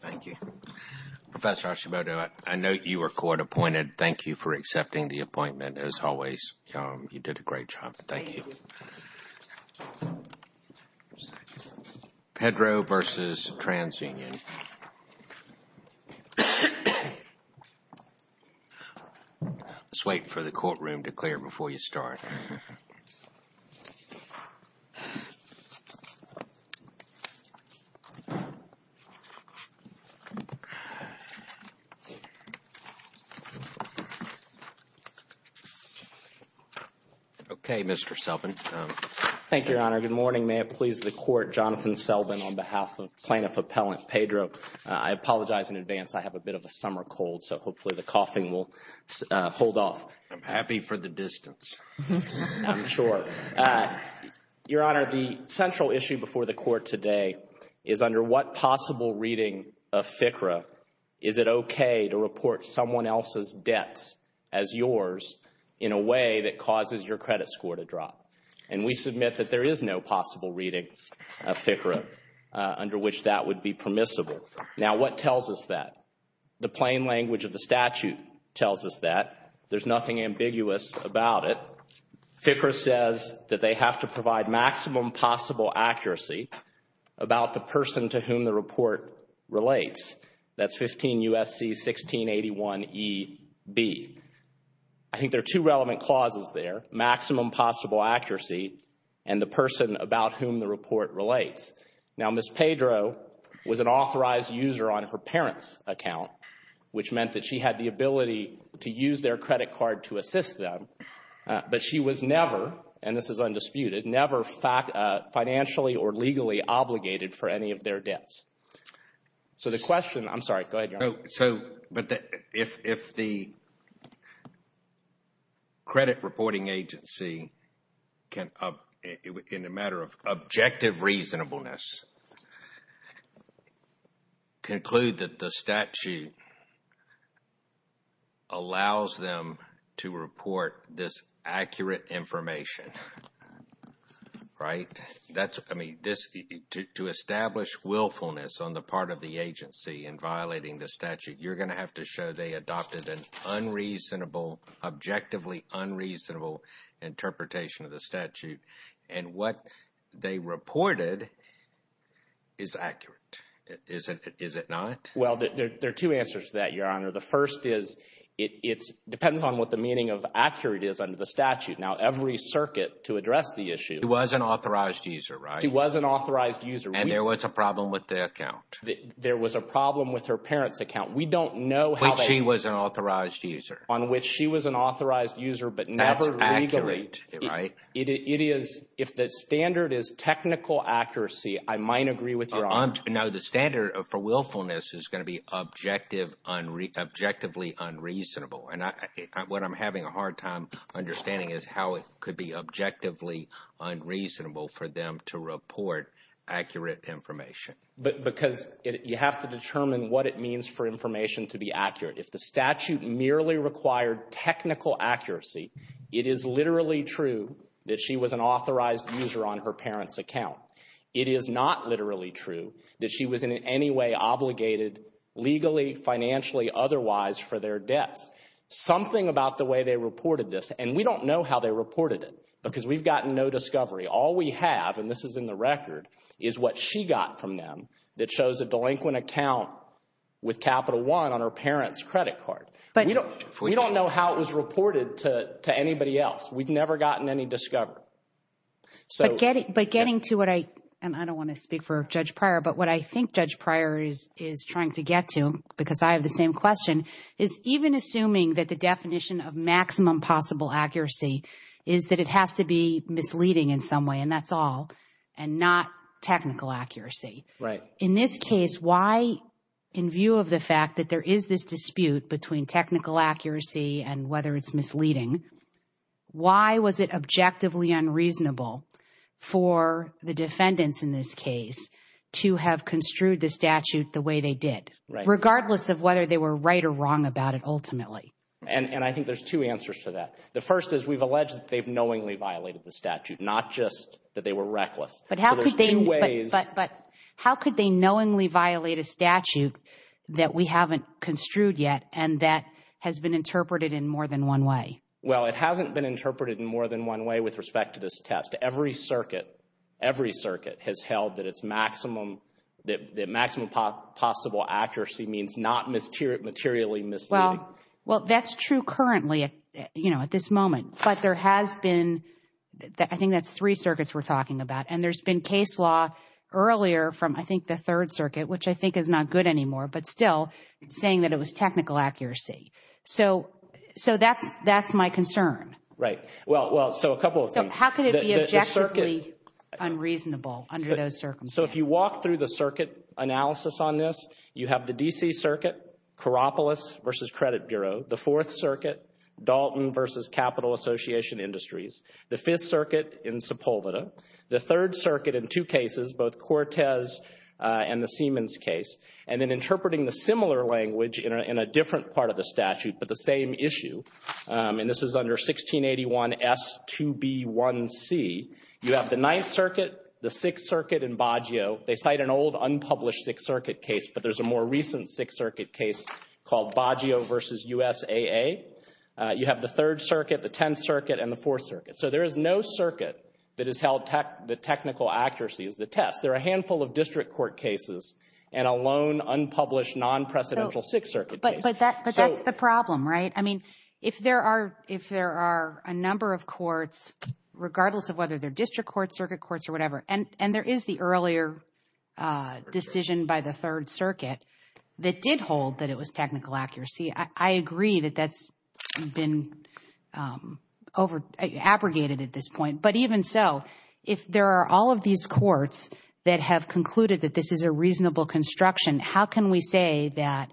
Thank you, Professor Hashimoto. I know you were court appointed. Thank you for accepting the appointment as always. You did a great job. Thank you. Pedro versus Transunion. Let's wait for the courtroom to clear before you start. Okay, Mr. Selvin. Thank you, Your Honor. Good morning. May it please the Court, Jonathan Selvin, on behalf of Plaintiff Appellant Pedro. I apologize in advance. I have a bit of a summer cold, so hopefully the coughing will hold off. I'm happy for the distance. I'm sure. Your Honor, the central issue before the Court today is under what possible reading of FCRA is it okay to report someone else's debt as yours in a way that causes your credit score to drop? And we submit that there is no possible reading of FCRA under which that would be permissible. Now, what tells us that? The plain language of the statute tells us that. There's nothing ambiguous about it. FCRA says that they have to provide maximum possible accuracy about the person to whom the report relates. That's 15 U.S.C. 1681 E.B. I think there are two relevant clauses there, maximum possible accuracy and the person about whom the report relates. Now, Ms. Pedro was an authorized user on her parents' account, which meant that she had the ability to use their credit card to assist them, but she was never, and this is undisputed, never financially or legally obligated for any of their debts. So the question, I'm sorry, go ahead, Your Honor. But if the credit reporting agency can, in a matter of objective reasonableness, conclude that the statute allows them to report this accurate information, right? That's, I mean, to establish willfulness on the part of the agency in violating the statute, you're going to have to show they adopted an unreasonable, objectively unreasonable interpretation of the statute. And what they reported is accurate, is it not? Well, there are two answers to that, Your Honor. The first is it depends on what the meaning of accurate is under the statute. Now, every circuit to address the issue… She was an authorized user, right? She was an authorized user. And there was a problem with the account. There was a problem with her parents' account. We don't know how they… But she was an authorized user. On which she was an authorized user, but never legally… That's accurate, right? It is, if the standard is technical accuracy, I might agree with Your Honor. Now, the standard for willfulness is going to be objectively unreasonable. And what I'm having a hard time understanding is how it could be objectively unreasonable for them to report accurate information. Because you have to determine what it means for information to be accurate. If the statute merely required technical accuracy, it is literally true that she was an authorized user on her parents' account. It is not literally true that she was in any way obligated legally, financially, otherwise for their debts. Something about the way they reported this, and we don't know how they reported it because we've gotten no discovery. All we have, and this is in the record, is what she got from them that shows a delinquent account with Capital One on her parents' credit card. We don't know how it was reported to anybody else. We've never gotten any discovery. But getting to what I, and I don't want to speak for Judge Pryor, but what I think Judge Pryor is trying to get to, because I have the same question, is even assuming that the definition of maximum possible accuracy is that it has to be misleading in some way, and that's all, and not technical accuracy. In this case, why, in view of the fact that there is this dispute between technical accuracy and whether it's misleading, why was it objectively unreasonable for the defendants in this case to have construed the statute the way they did, regardless of whether they were right or wrong about it ultimately? And I think there's two answers to that. The first is we've alleged that they've knowingly violated the statute, not just that they were reckless. But how could they knowingly violate a statute that we haven't construed yet and that has been interpreted in more than one way? Well, it hasn't been interpreted in more than one way with respect to this test. Every circuit, every circuit has held that it's maximum, that maximum possible accuracy means not materially misleading. Well, that's true currently, you know, at this moment. But there has been, I think that's three circuits we're talking about. And there's been case law earlier from, I think, the Third Circuit, which I think is not good anymore, but still saying that it was technical accuracy. So that's my concern. Right. Well, so a couple of things. So how could it be objectively unreasonable under those circumstances? So if you walk through the circuit analysis on this, you have the D.C. Circuit, Coropolis v. Credit Bureau, the Fourth Circuit, Dalton v. Capital Association Industries, the Fifth Circuit in Sepulveda, the Third Circuit in two cases, both Cortez and the Siemens case, and then interpreting the similar language in a different part of the statute, but the same issue. And this is under 1681S2B1C. You have the Ninth Circuit, the Sixth Circuit, and Baggio. They cite an old unpublished Sixth Circuit case, but there's a more recent Sixth Circuit case called Baggio v. USAA. You have the Third Circuit, the Tenth Circuit, and the Fourth Circuit. So there is no circuit that has held the technical accuracy as the test. There are a handful of district court cases and a lone unpublished non-precedential Sixth Circuit case. But that's the problem, right? I mean, if there are a number of courts, regardless of whether they're district courts, circuit courts, or whatever, and there is the earlier decision by the Third Circuit that did hold that it was technical accuracy. I agree that that's been abrogated at this point. But even so, if there are all of these courts that have concluded that this is a reasonable construction, how can we say that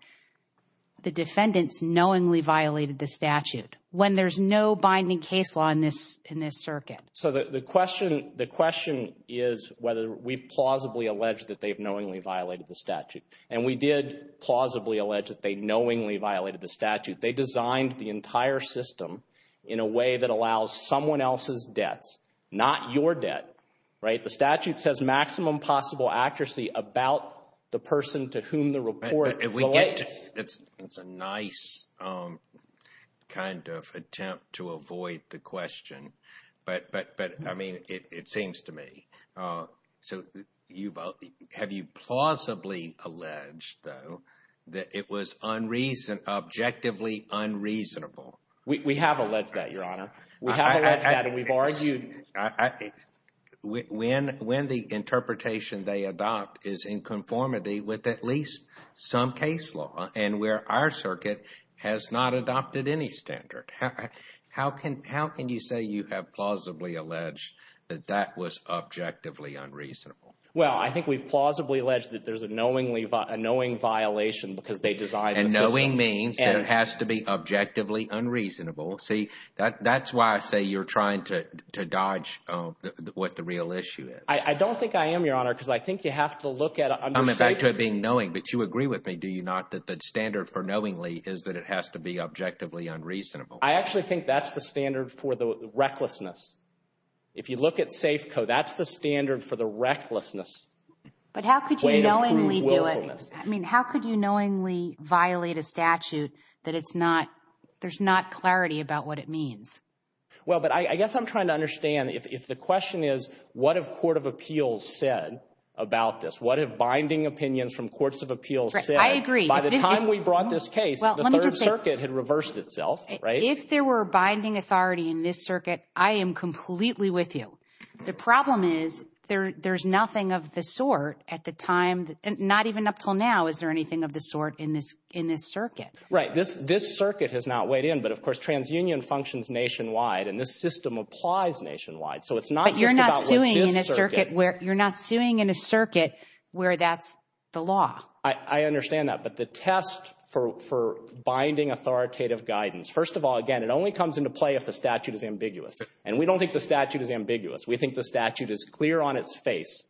the defendants knowingly violated the statute when there's no binding case law in this circuit? So the question is whether we've plausibly alleged that they've knowingly violated the statute. And we did plausibly allege that they knowingly violated the statute. They designed the entire system in a way that allows someone else's debts, not your debt, right? The statute says maximum possible accuracy about the person to whom the report relates. It's a nice kind of attempt to avoid the question, but, I mean, it seems to me. So have you plausibly alleged, though, that it was objectively unreasonable? We have alleged that, Your Honor. We have alleged that and we've argued. When the interpretation they adopt is in conformity with at least some case law and where our circuit has not adopted any standard, how can you say you have plausibly alleged that that was objectively unreasonable? Well, I think we've plausibly alleged that there's a knowing violation because they designed the system. And knowing means that it has to be objectively unreasonable. See, that's why I say you're trying to dodge what the real issue is. I don't think I am, Your Honor, because I think you have to look at it. But you agree with me, do you not, that the standard for knowingly is that it has to be objectively unreasonable? I actually think that's the standard for the recklessness. If you look at safe code, that's the standard for the recklessness. But how could you knowingly do it? I mean, how could you knowingly violate a statute that it's not – there's not clarity about what it means? Well, but I guess I'm trying to understand if the question is what have court of appeals said about this? What have binding opinions from courts of appeals said? I agree. By the time we brought this case, the Third Circuit had reversed itself, right? If there were binding authority in this circuit, I am completely with you. The problem is there's nothing of the sort at the time – not even up until now is there anything of the sort in this circuit. This circuit has not weighed in. But, of course, TransUnion functions nationwide, and this system applies nationwide. But you're not suing in a circuit where that's the law. I understand that. But the test for binding authoritative guidance – first of all, again, it only comes into play if the statute is ambiguous. And we don't think the statute is ambiguous. We think the statute is clear on its face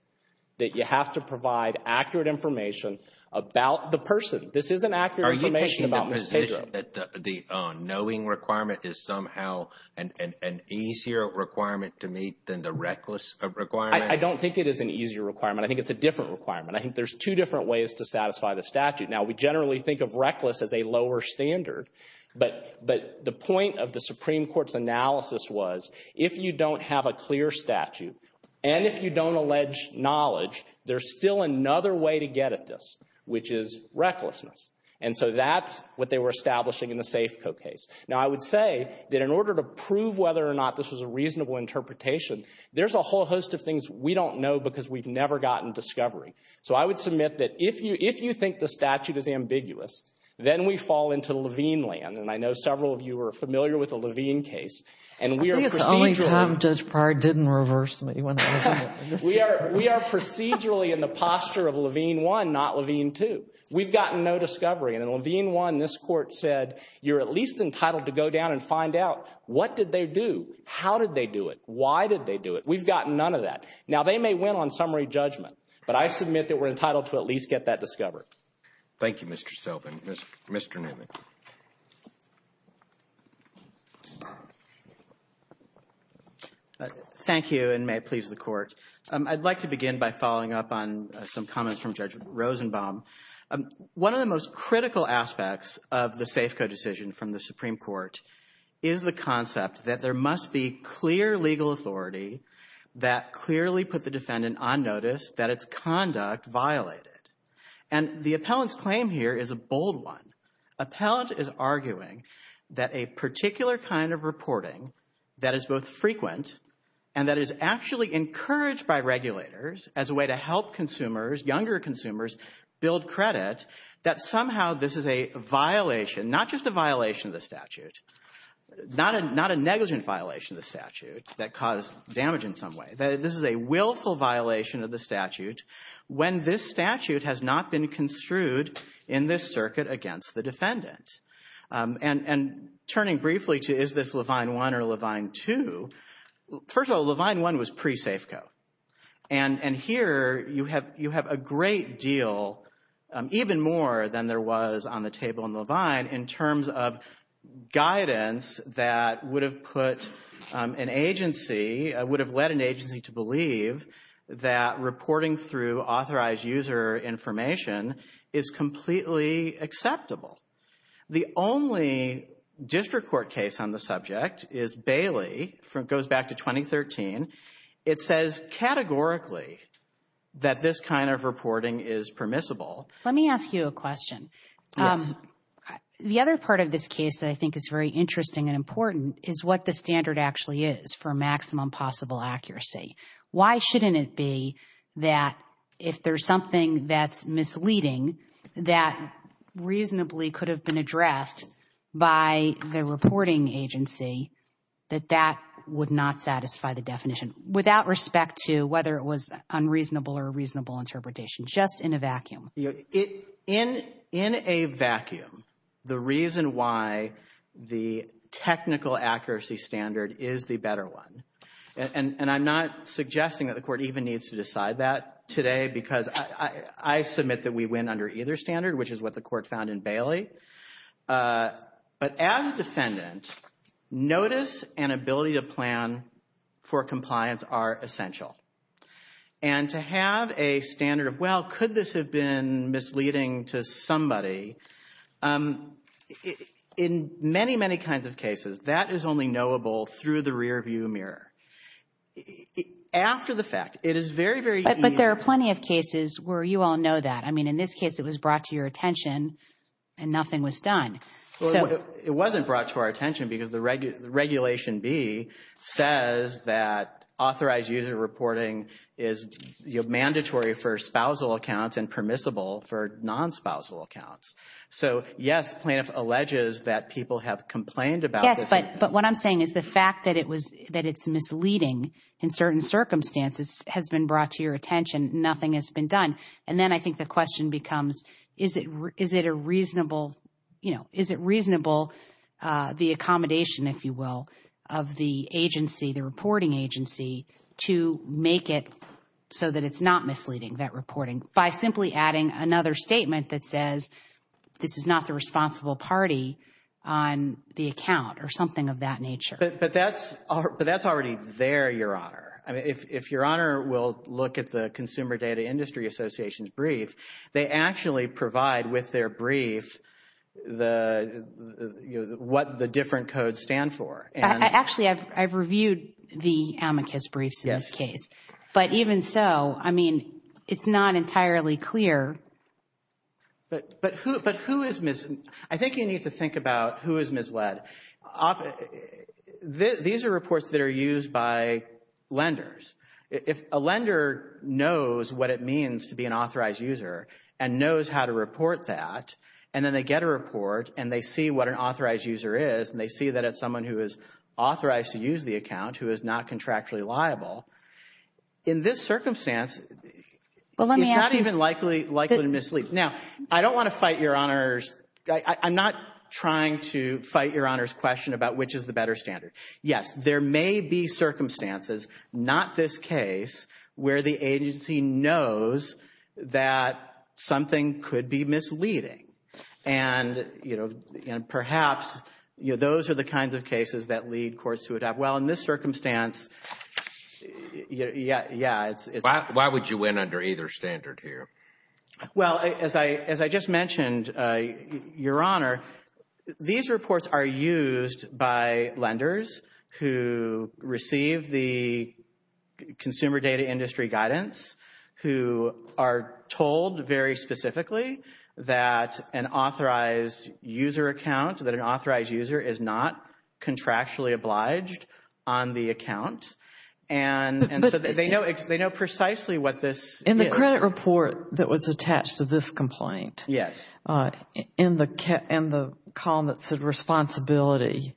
that you have to provide accurate information about the person. This isn't accurate information about the decision. Do you think that the knowing requirement is somehow an easier requirement to meet than the reckless requirement? I don't think it is an easier requirement. I think it's a different requirement. I think there's two different ways to satisfy the statute. Now, we generally think of reckless as a lower standard. But the point of the Supreme Court's analysis was if you don't have a clear statute and if you don't allege knowledge, there's still another way to get at this, which is recklessness. And so that's what they were establishing in the Safeco case. Now, I would say that in order to prove whether or not this was a reasonable interpretation, there's a whole host of things we don't know because we've never gotten discovery. So I would submit that if you think the statute is ambiguous, then we fall into Levine land. And I know several of you are familiar with the Levine case. And we are procedurally – I think it's the only time Judge Pryor didn't reverse me when I was in it. We are procedurally in the posture of Levine I, not Levine II. We've gotten no discovery. And in Levine I, this Court said you're at least entitled to go down and find out what did they do, how did they do it, why did they do it. We've gotten none of that. Now, they may win on summary judgment, but I submit that we're entitled to at least get that discovered. Thank you, Mr. Selvin. Mr. Newman. Thank you, and may it please the Court. I'd like to begin by following up on some comments from Judge Rosenbaum. One of the most critical aspects of the Safeco decision from the Supreme Court is the concept that there must be clear legal authority that clearly put the defendant on notice that its conduct violated. And the appellant's claim here is a bold one. Appellant is arguing that a particular kind of reporting that is both frequent and that is actually encouraged by regulators as a way to help consumers, younger consumers, build credit, that somehow this is a violation, not just a violation of the statute, not a negligent violation of the statute that caused damage in some way, that this is a willful violation of the statute when this statute has not been construed in this circuit against the defendant. And turning briefly to is this Levine I or Levine II, first of all, Levine I was pre-Safeco. And here you have a great deal, even more than there was on the table in Levine, in terms of guidance that would have put an agency, would have led an agency to believe that reporting through authorized user information is completely acceptable. The only district court case on the subject is Bailey, goes back to 2013. It says categorically that this kind of reporting is permissible. Let me ask you a question. The other part of this case that I think is very interesting and important is what the standard actually is for maximum possible accuracy. Why shouldn't it be that if there's something that's misleading that reasonably could have been addressed by the reporting agency that that would not satisfy the definition without respect to whether it was unreasonable or reasonable interpretation, just in a vacuum? In a vacuum, the reason why the technical accuracy standard is the better one, and I'm not suggesting that the court even needs to decide that today because I submit that we win under either standard, which is what the court found in Bailey. But as a defendant, notice and ability to plan for compliance are essential. And to have a standard of, well, could this have been misleading to somebody? In many, many kinds of cases, that is only knowable through the rearview mirror. After the fact, it is very, very easy. But there are plenty of cases where you all know that. I mean, in this case, it was brought to your attention and nothing was done. It wasn't brought to our attention because the Regulation B says that authorized user reporting is mandatory for spousal accounts and permissible for non-spousal accounts. So, yes, plaintiff alleges that people have complained about this. Yes, but what I'm saying is the fact that it's misleading in certain circumstances has been brought to your attention. Nothing has been done. And then I think the question becomes, is it a reasonable, you know, is it reasonable the accommodation, if you will, of the agency, the reporting agency, to make it so that it's not misleading, that reporting, by simply adding another statement that says this is not the responsible party on the account or something of that nature. But that's already there, Your Honor. I mean, if Your Honor will look at the Consumer Data Industry Association's brief, they actually provide with their brief what the different codes stand for. Actually, I've reviewed the amicus briefs in this case. But even so, I mean, it's not entirely clear. But who is misled? I think you need to think about who is misled. These are reports that are used by lenders. If a lender knows what it means to be an authorized user and knows how to report that, and then they get a report and they see what an authorized user is, and they see that it's someone who is authorized to use the account who is not contractually liable, in this circumstance, it's not even likely to mislead. Now, I don't want to fight Your Honor's – I'm not trying to fight Your Honor's question about which is the better standard. Yes, there may be circumstances, not this case, where the agency knows that something could be misleading. And, you know, perhaps those are the kinds of cases that lead courts to adopt. Well, in this circumstance, yeah, it's – Why would you win under either standard here? Well, as I just mentioned, Your Honor, these reports are used by lenders who receive the consumer data industry guidance, who are told very specifically that an authorized user account, that an authorized user is not contractually obliged on the account. And so they know precisely what this is. In the Senate report that was attached to this complaint. Yes. In the column that said responsibility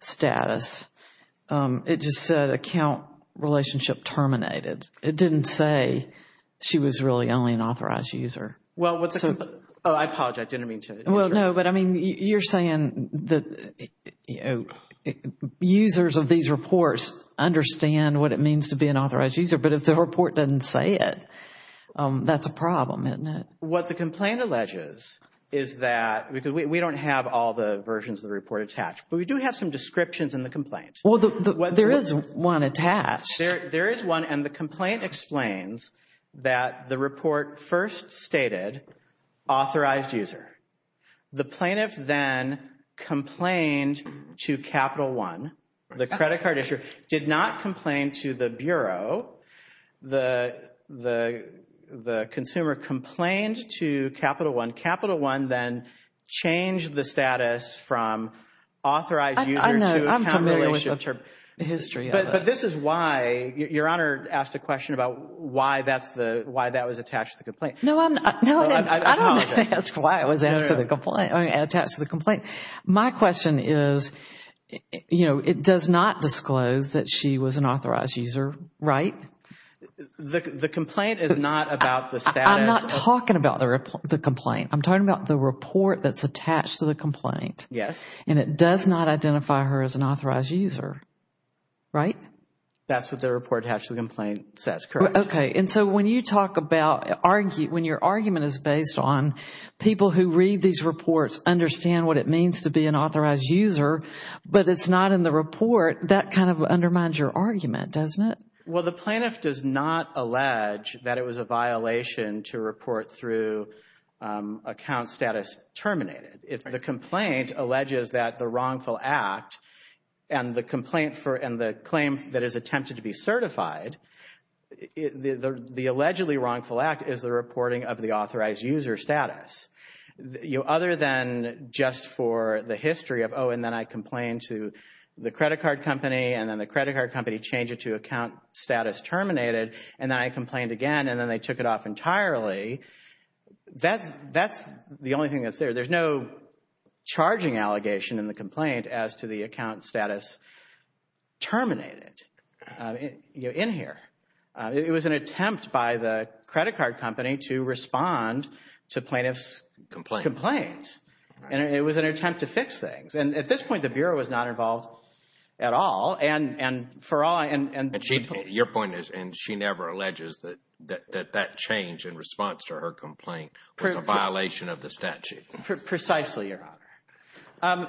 status, it just said account relationship terminated. It didn't say she was really only an authorized user. Well, I apologize, I didn't mean to. Well, no, but I mean, you're saying that users of these reports understand what it means to be an authorized user, but if the report doesn't say it, that's a problem, isn't it? What the complaint alleges is that – because we don't have all the versions of the report attached, but we do have some descriptions in the complaint. Well, there is one attached. There is one, and the complaint explains that the report first stated authorized user. The plaintiff then complained to Capital One. The credit card issuer did not complain to the Bureau. The consumer complained to Capital One. Capital One then changed the status from authorized user to account relationship. I know. I'm familiar with the history of it. But this is why – Your Honor asked a question about why that was attached to the complaint. No, I don't ask why it was attached to the complaint. My question is, you know, it does not disclose that she was an authorized user, right? The complaint is not about the status. I'm not talking about the complaint. I'm talking about the report that's attached to the complaint. Yes. And it does not identify her as an authorized user, right? That's what the report attached to the complaint says, correct. Okay. And so when you talk about – when your argument is based on people who read these reports understand what it means to be an authorized user, but it's not in the report, that kind of undermines your argument, doesn't it? Well, the plaintiff does not allege that it was a violation to report through account status terminated. If the complaint alleges that the wrongful act and the complaint for – the claim that is attempted to be certified, the allegedly wrongful act is the reporting of the authorized user status. Other than just for the history of, oh, and then I complained to the credit card company and then the credit card company changed it to account status terminated, and then I complained again and then they took it off entirely, that's the only thing that's there. There's no charging allegation in the complaint as to the account status terminated in here. It was an attempt by the credit card company to respond to plaintiff's complaint. And it was an attempt to fix things. And at this point, the Bureau was not involved at all and for all – Your point is, and she never alleges that that change in response to her complaint was a violation of the statute. Precisely, Your Honor.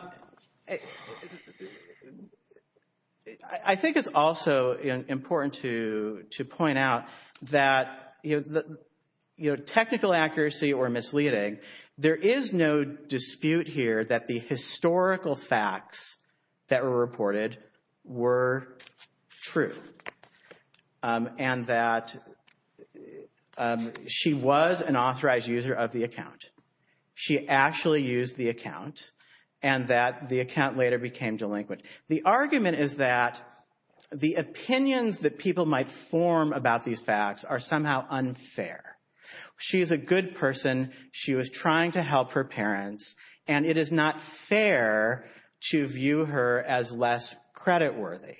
I think it's also important to point out that, you know, technical accuracy or misleading, there is no dispute here that the historical facts that were reported were true and that she was an authorized user of the account. She actually used the account and that the account later became delinquent. The argument is that the opinions that people might form about these facts are somehow unfair. She's a good person. She was trying to help her parents, and it is not fair to view her as less creditworthy.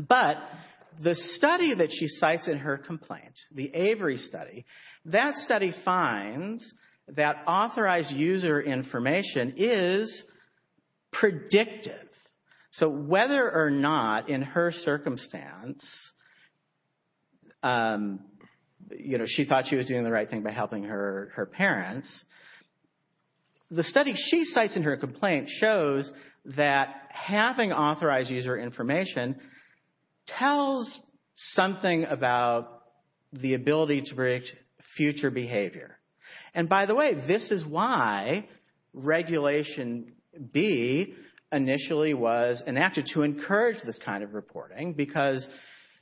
But the study that she cites in her complaint, the Avery study, that study finds that authorized user information is predictive. So whether or not in her circumstance, you know, she thought she was doing the right thing by helping her parents, the study she cites in her complaint shows that having authorized user information tells something about the ability to predict future behavior. And by the way, this is why Regulation B initially was enacted to encourage this kind of reporting because,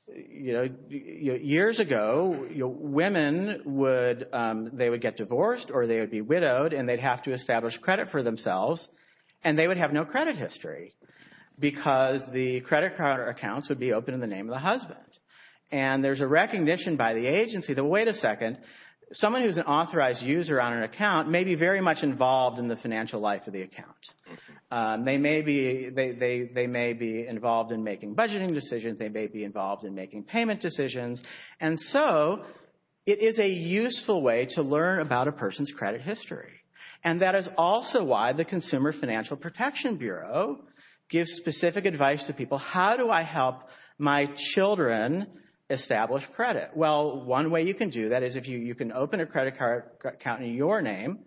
you know, years ago, women, they would get divorced or they would be widowed and they'd have to establish credit for themselves, and they would have no credit history because the credit card accounts would be open in the name of the husband. And there's a recognition by the agency that, wait a second, someone who's an authorized user on an account may be very much involved in the financial life of the account. They may be involved in making budgeting decisions. They may be involved in making payment decisions. And so it is a useful way to learn about a person's credit history. And that is also why the Consumer Financial Protection Bureau gives specific advice to people, how do I help my children establish credit? Well, one way you can do that is if you can open a credit card account in your name,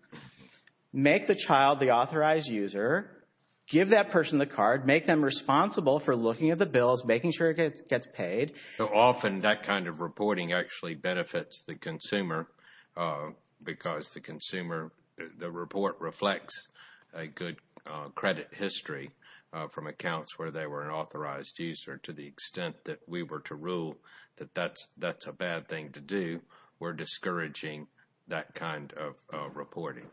make the child the authorized user, give that person the card, make them responsible for looking at the bills, making sure it gets paid. Often that kind of reporting actually benefits the consumer because the consumer, the report reflects a good credit history from accounts where they were an authorized user to the extent that we were to rule that that's a bad thing to do, we're discouraging that kind of reporting.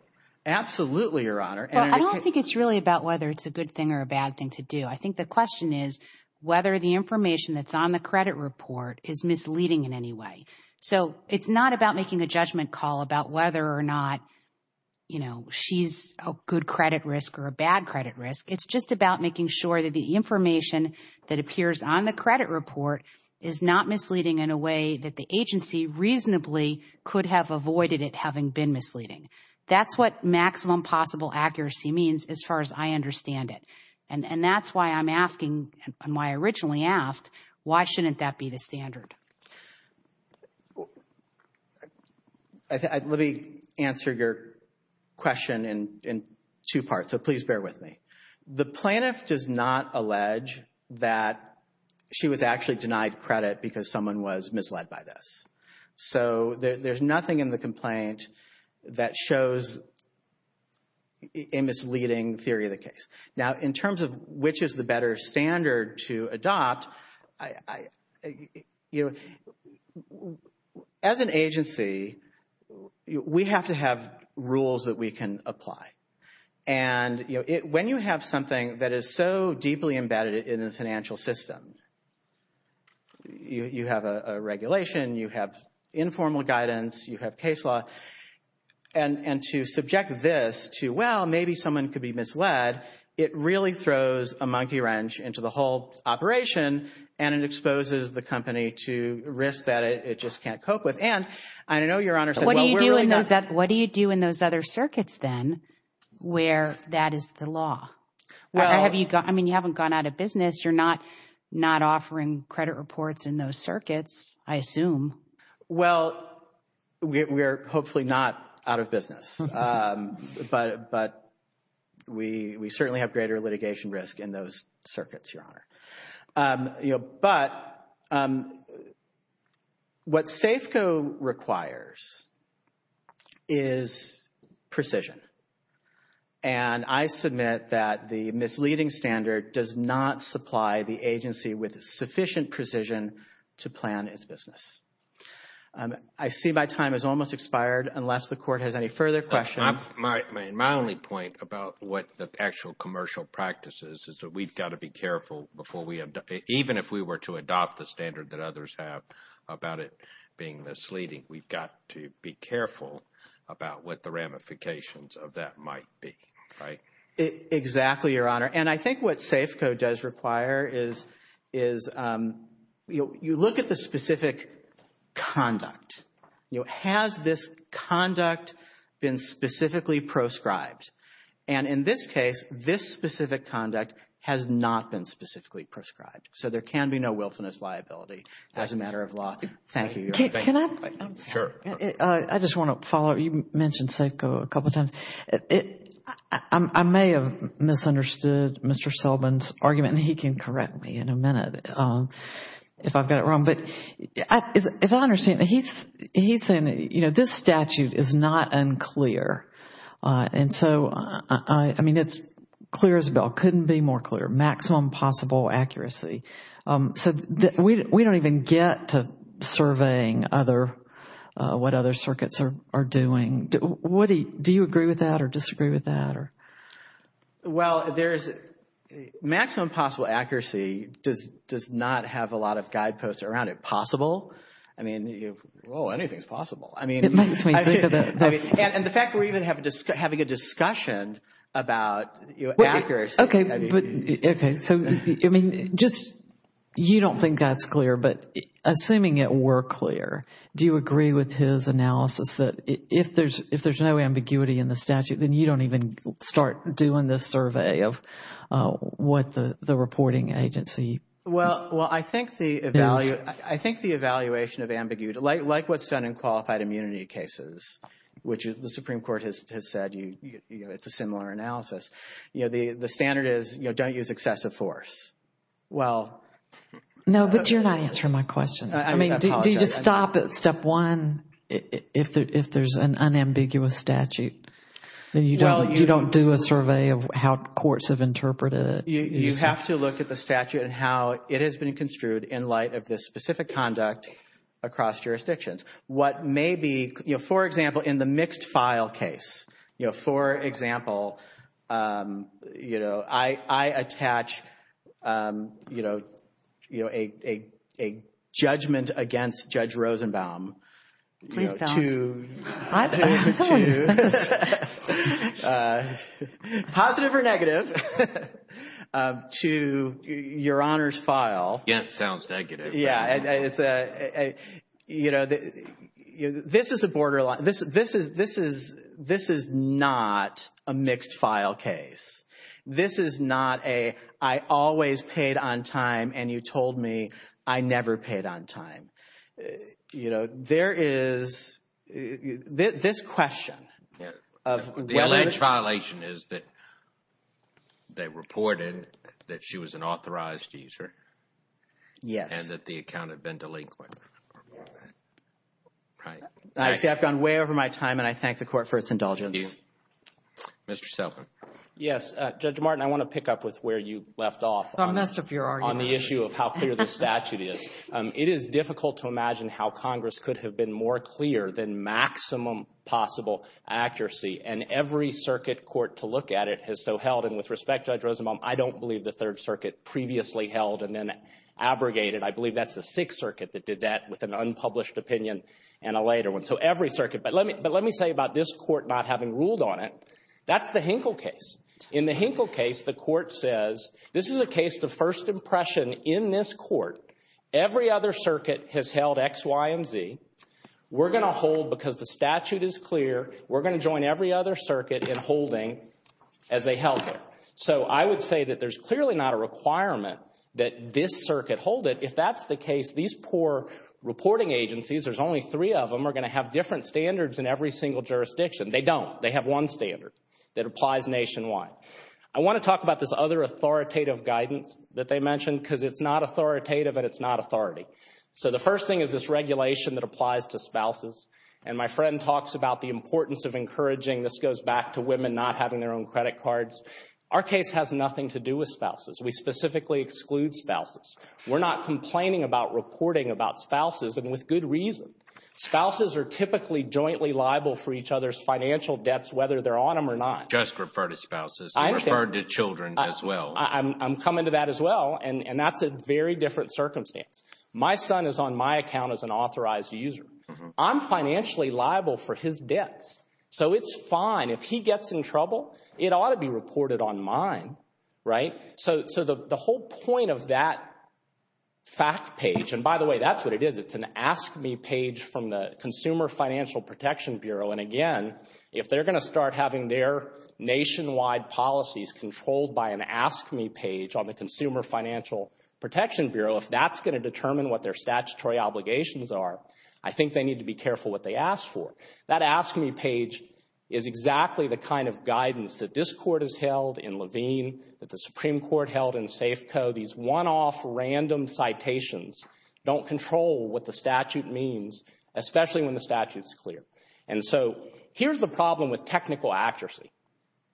Absolutely, Your Honor. Well, I don't think it's really about whether it's a good thing or a bad thing to do. I think the question is whether the information that's on the credit report is misleading in any way. So it's not about making a judgment call about whether or not, you know, she's a good credit risk or a bad credit risk. It's just about making sure that the information that appears on the credit report is not misleading in a way that the agency reasonably could have avoided it having been misleading. That's what maximum possible accuracy means as far as I understand it. And that's why I'm asking, and why I originally asked, why shouldn't that be the standard? Let me answer your question in two parts, so please bear with me. The plaintiff does not allege that she was actually denied credit because someone was misled by this. So there's nothing in the complaint that shows a misleading theory of the case. Now, in terms of which is the better standard to adopt, as an agency, we have to have rules that we can apply. And, you know, when you have something that is so deeply embedded in the financial system, you have a regulation, you have informal guidance, you have case law, and to subject this to, well, maybe someone could be misled, it really throws a monkey wrench into the whole operation, and it exposes the company to risk that it just can't cope with. What do you do in those other circuits, then, where that is the law? I mean, you haven't gone out of business. You're not offering credit reports in those circuits, I assume. Well, we're hopefully not out of business, but we certainly have greater litigation risk in those circuits, Your Honor. But what SAFCO requires is precision, and I submit that the misleading standard does not supply the agency with sufficient precision to plan its business. I see my time has almost expired, unless the Court has any further questions. My only point about what the actual commercial practice is, is that we've got to be careful even if we were to adopt the standard that others have about it being misleading, we've got to be careful about what the ramifications of that might be, right? Exactly, Your Honor. And I think what SAFCO does require is you look at the specific conduct. Has this conduct been specifically proscribed? And in this case, this specific conduct has not been specifically proscribed. So there can be no willfulness liability as a matter of law. Thank you, Your Honor. Can I? Sure. I just want to follow up. You mentioned SAFCO a couple of times. I may have misunderstood Mr. Sullivan's argument, and he can correct me in a minute if I've got it wrong. But if I understand, he's saying, you know, this statute is not unclear. And so, I mean, it's clear as a bell, couldn't be more clear, maximum possible accuracy. So we don't even get to surveying what other circuits are doing. Do you agree with that or disagree with that? Well, maximum possible accuracy does not have a lot of guideposts around it. Possible? I mean, well, anything is possible. It makes me think of it. And the fact that we're even having a discussion about accuracy. Okay. So, I mean, just you don't think that's clear, but assuming it were clear, do you agree with his analysis that if there's no ambiguity in the statute, then you don't even start doing this survey of what the reporting agency. Well, I think the evaluation of ambiguity, like what's done in qualified immunity cases, which the Supreme Court has said, you know, it's a similar analysis. You know, the standard is, you know, don't use excessive force. Well. No, but you're not answering my question. I mean, do you just stop at step one if there's an unambiguous statute? Then you don't do a survey of how courts have interpreted it. You have to look at the statute and how it has been construed in light of the specific conduct across jurisdictions. What may be, you know, for example, in the mixed file case. You know, for example, you know, I attach, you know, a judgment against Judge Rosenbaum. Please don't. Positive or negative to your Honor's file. Yeah, it sounds negative. Yeah, it's a, you know, this is a borderline. This is not a mixed file case. This is not a I always paid on time and you told me I never paid on time. You know, there is this question. The alleged violation is that they reported that she was an authorized user. Yes, that the account had been delinquent. Right. I've gone way over my time and I thank the court for its indulgence. Mr. Yes, Judge Martin, I want to pick up with where you left off on the issue of how clear the statute is. It is difficult to imagine how Congress could have been more clear than maximum possible accuracy. And every circuit court to look at it has so held. And with respect, Judge Rosenbaum, I don't believe the Third Circuit previously held and then abrogated. I believe that's the Sixth Circuit that did that with an unpublished opinion and a later one. So every circuit. But let me but let me say about this court not having ruled on it. That's the Hinkle case. In the Hinkle case, the court says this is a case of first impression in this court. Every other circuit has held X, Y and Z. We're going to hold because the statute is clear. We're going to join every other circuit in holding as they held it. So I would say that there's clearly not a requirement that this circuit hold it. If that's the case, these poor reporting agencies, there's only three of them, are going to have different standards in every single jurisdiction. They don't. They have one standard that applies nationwide. I want to talk about this other authoritative guidance that they mentioned because it's not authoritative and it's not authority. So the first thing is this regulation that applies to spouses. And my friend talks about the importance of encouraging this goes back to women not having their own credit cards. Our case has nothing to do with spouses. We specifically exclude spouses. We're not complaining about reporting about spouses and with good reason. Spouses are typically jointly liable for each other's financial debts whether they're on them or not. Just refer to spouses. I referred to children as well. I'm coming to that as well, and that's a very different circumstance. My son is on my account as an authorized user. I'm financially liable for his debts. So it's fine. If he gets in trouble, it ought to be reported on mine, right? So the whole point of that fact page, and by the way, that's what it is. It's an Ask Me page from the Consumer Financial Protection Bureau. And, again, if they're going to start having their nationwide policies controlled by an Ask Me page on the Consumer Financial Protection Bureau, if that's going to determine what their statutory obligations are, I think they need to be careful what they ask for. That Ask Me page is exactly the kind of guidance that this Court has held in Levine, that the Supreme Court held in Safeco. These one-off random citations don't control what the statute means, especially when the statute's clear. And so here's the problem with technical accuracy.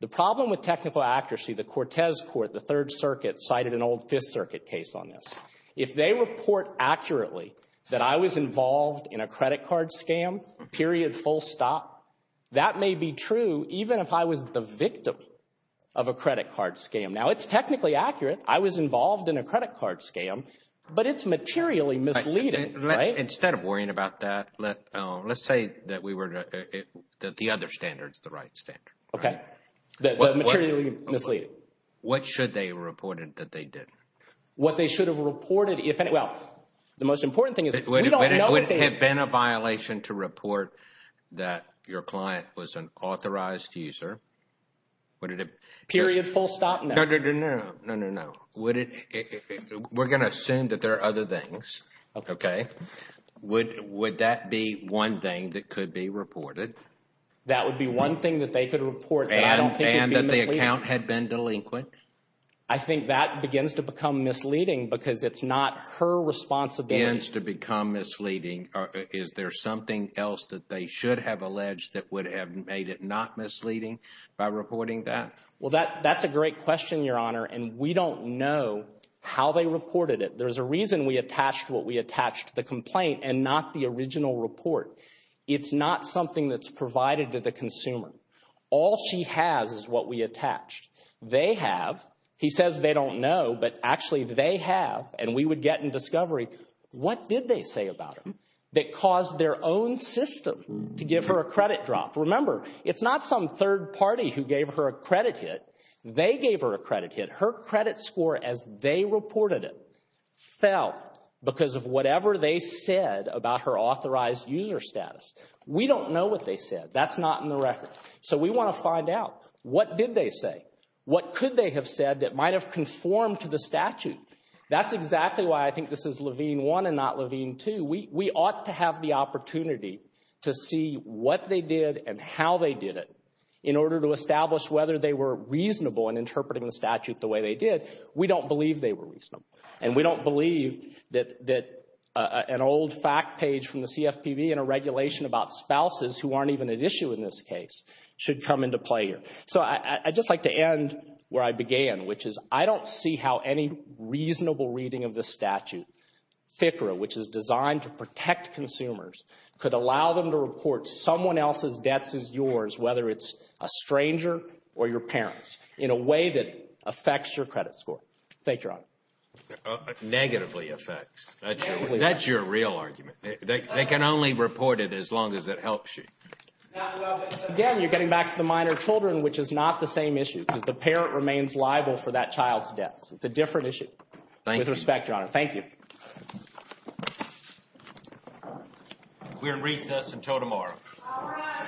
The problem with technical accuracy, the Cortez Court, the Third Circuit, cited an old Fifth Circuit case on this. If they report accurately that I was involved in a credit card scam, period, full stop, that may be true even if I was the victim of a credit card scam. Now, it's technically accurate. I was involved in a credit card scam, but it's materially misleading, right? Instead of worrying about that, let's say that the other standard is the right standard. Okay. The materially misleading. What should they have reported that they did? What they should have reported, well, the most important thing is that we don't know that they did. Would it have been a violation to report that your client was an authorized user? Period, full stop, no. No, no, no. We're going to assume that there are other things. Okay. Would that be one thing that could be reported? That would be one thing that they could report that I don't think would be misleading. And that the account had been delinquent? I think that begins to become misleading because it's not her responsibility. Begins to become misleading. Is there something else that they should have alleged that would have made it not misleading by reporting that? Well, that's a great question, Your Honor, and we don't know how they reported it. There's a reason we attached what we attached to the complaint and not the original report. It's not something that's provided to the consumer. All she has is what we attached. They have, he says they don't know, but actually they have, and we would get in discovery, what did they say about him that caused their own system to give her a credit drop? Remember, it's not some third party who gave her a credit hit. They gave her a credit hit. Her credit score as they reported it fell because of whatever they said about her authorized user status. We don't know what they said. That's not in the record. So we want to find out. What did they say? What could they have said that might have conformed to the statute? That's exactly why I think this is Levine 1 and not Levine 2. We ought to have the opportunity to see what they did and how they did it in order to establish whether they were reasonable in interpreting the statute the way they did. We don't believe they were reasonable, and we don't believe that an old fact page from the CFPB and a regulation about spouses who aren't even at issue in this case should come into play here. So I'd just like to end where I began, which is I don't see how any reasonable reading of the statute, FCRA, which is designed to protect consumers, could allow them to report someone else's debts as yours, whether it's a stranger or your parents, in a way that affects your credit score. Thank you, Your Honor. Negatively affects. That's your real argument. They can only report it as long as it helps you. Again, you're getting back to the minor children, which is not the same issue, because the parent remains liable for that child's debts. It's a different issue. Thank you. Respect, Your Honor. Thank you. We're in recess until tomorrow. All rise. Recess adjourned.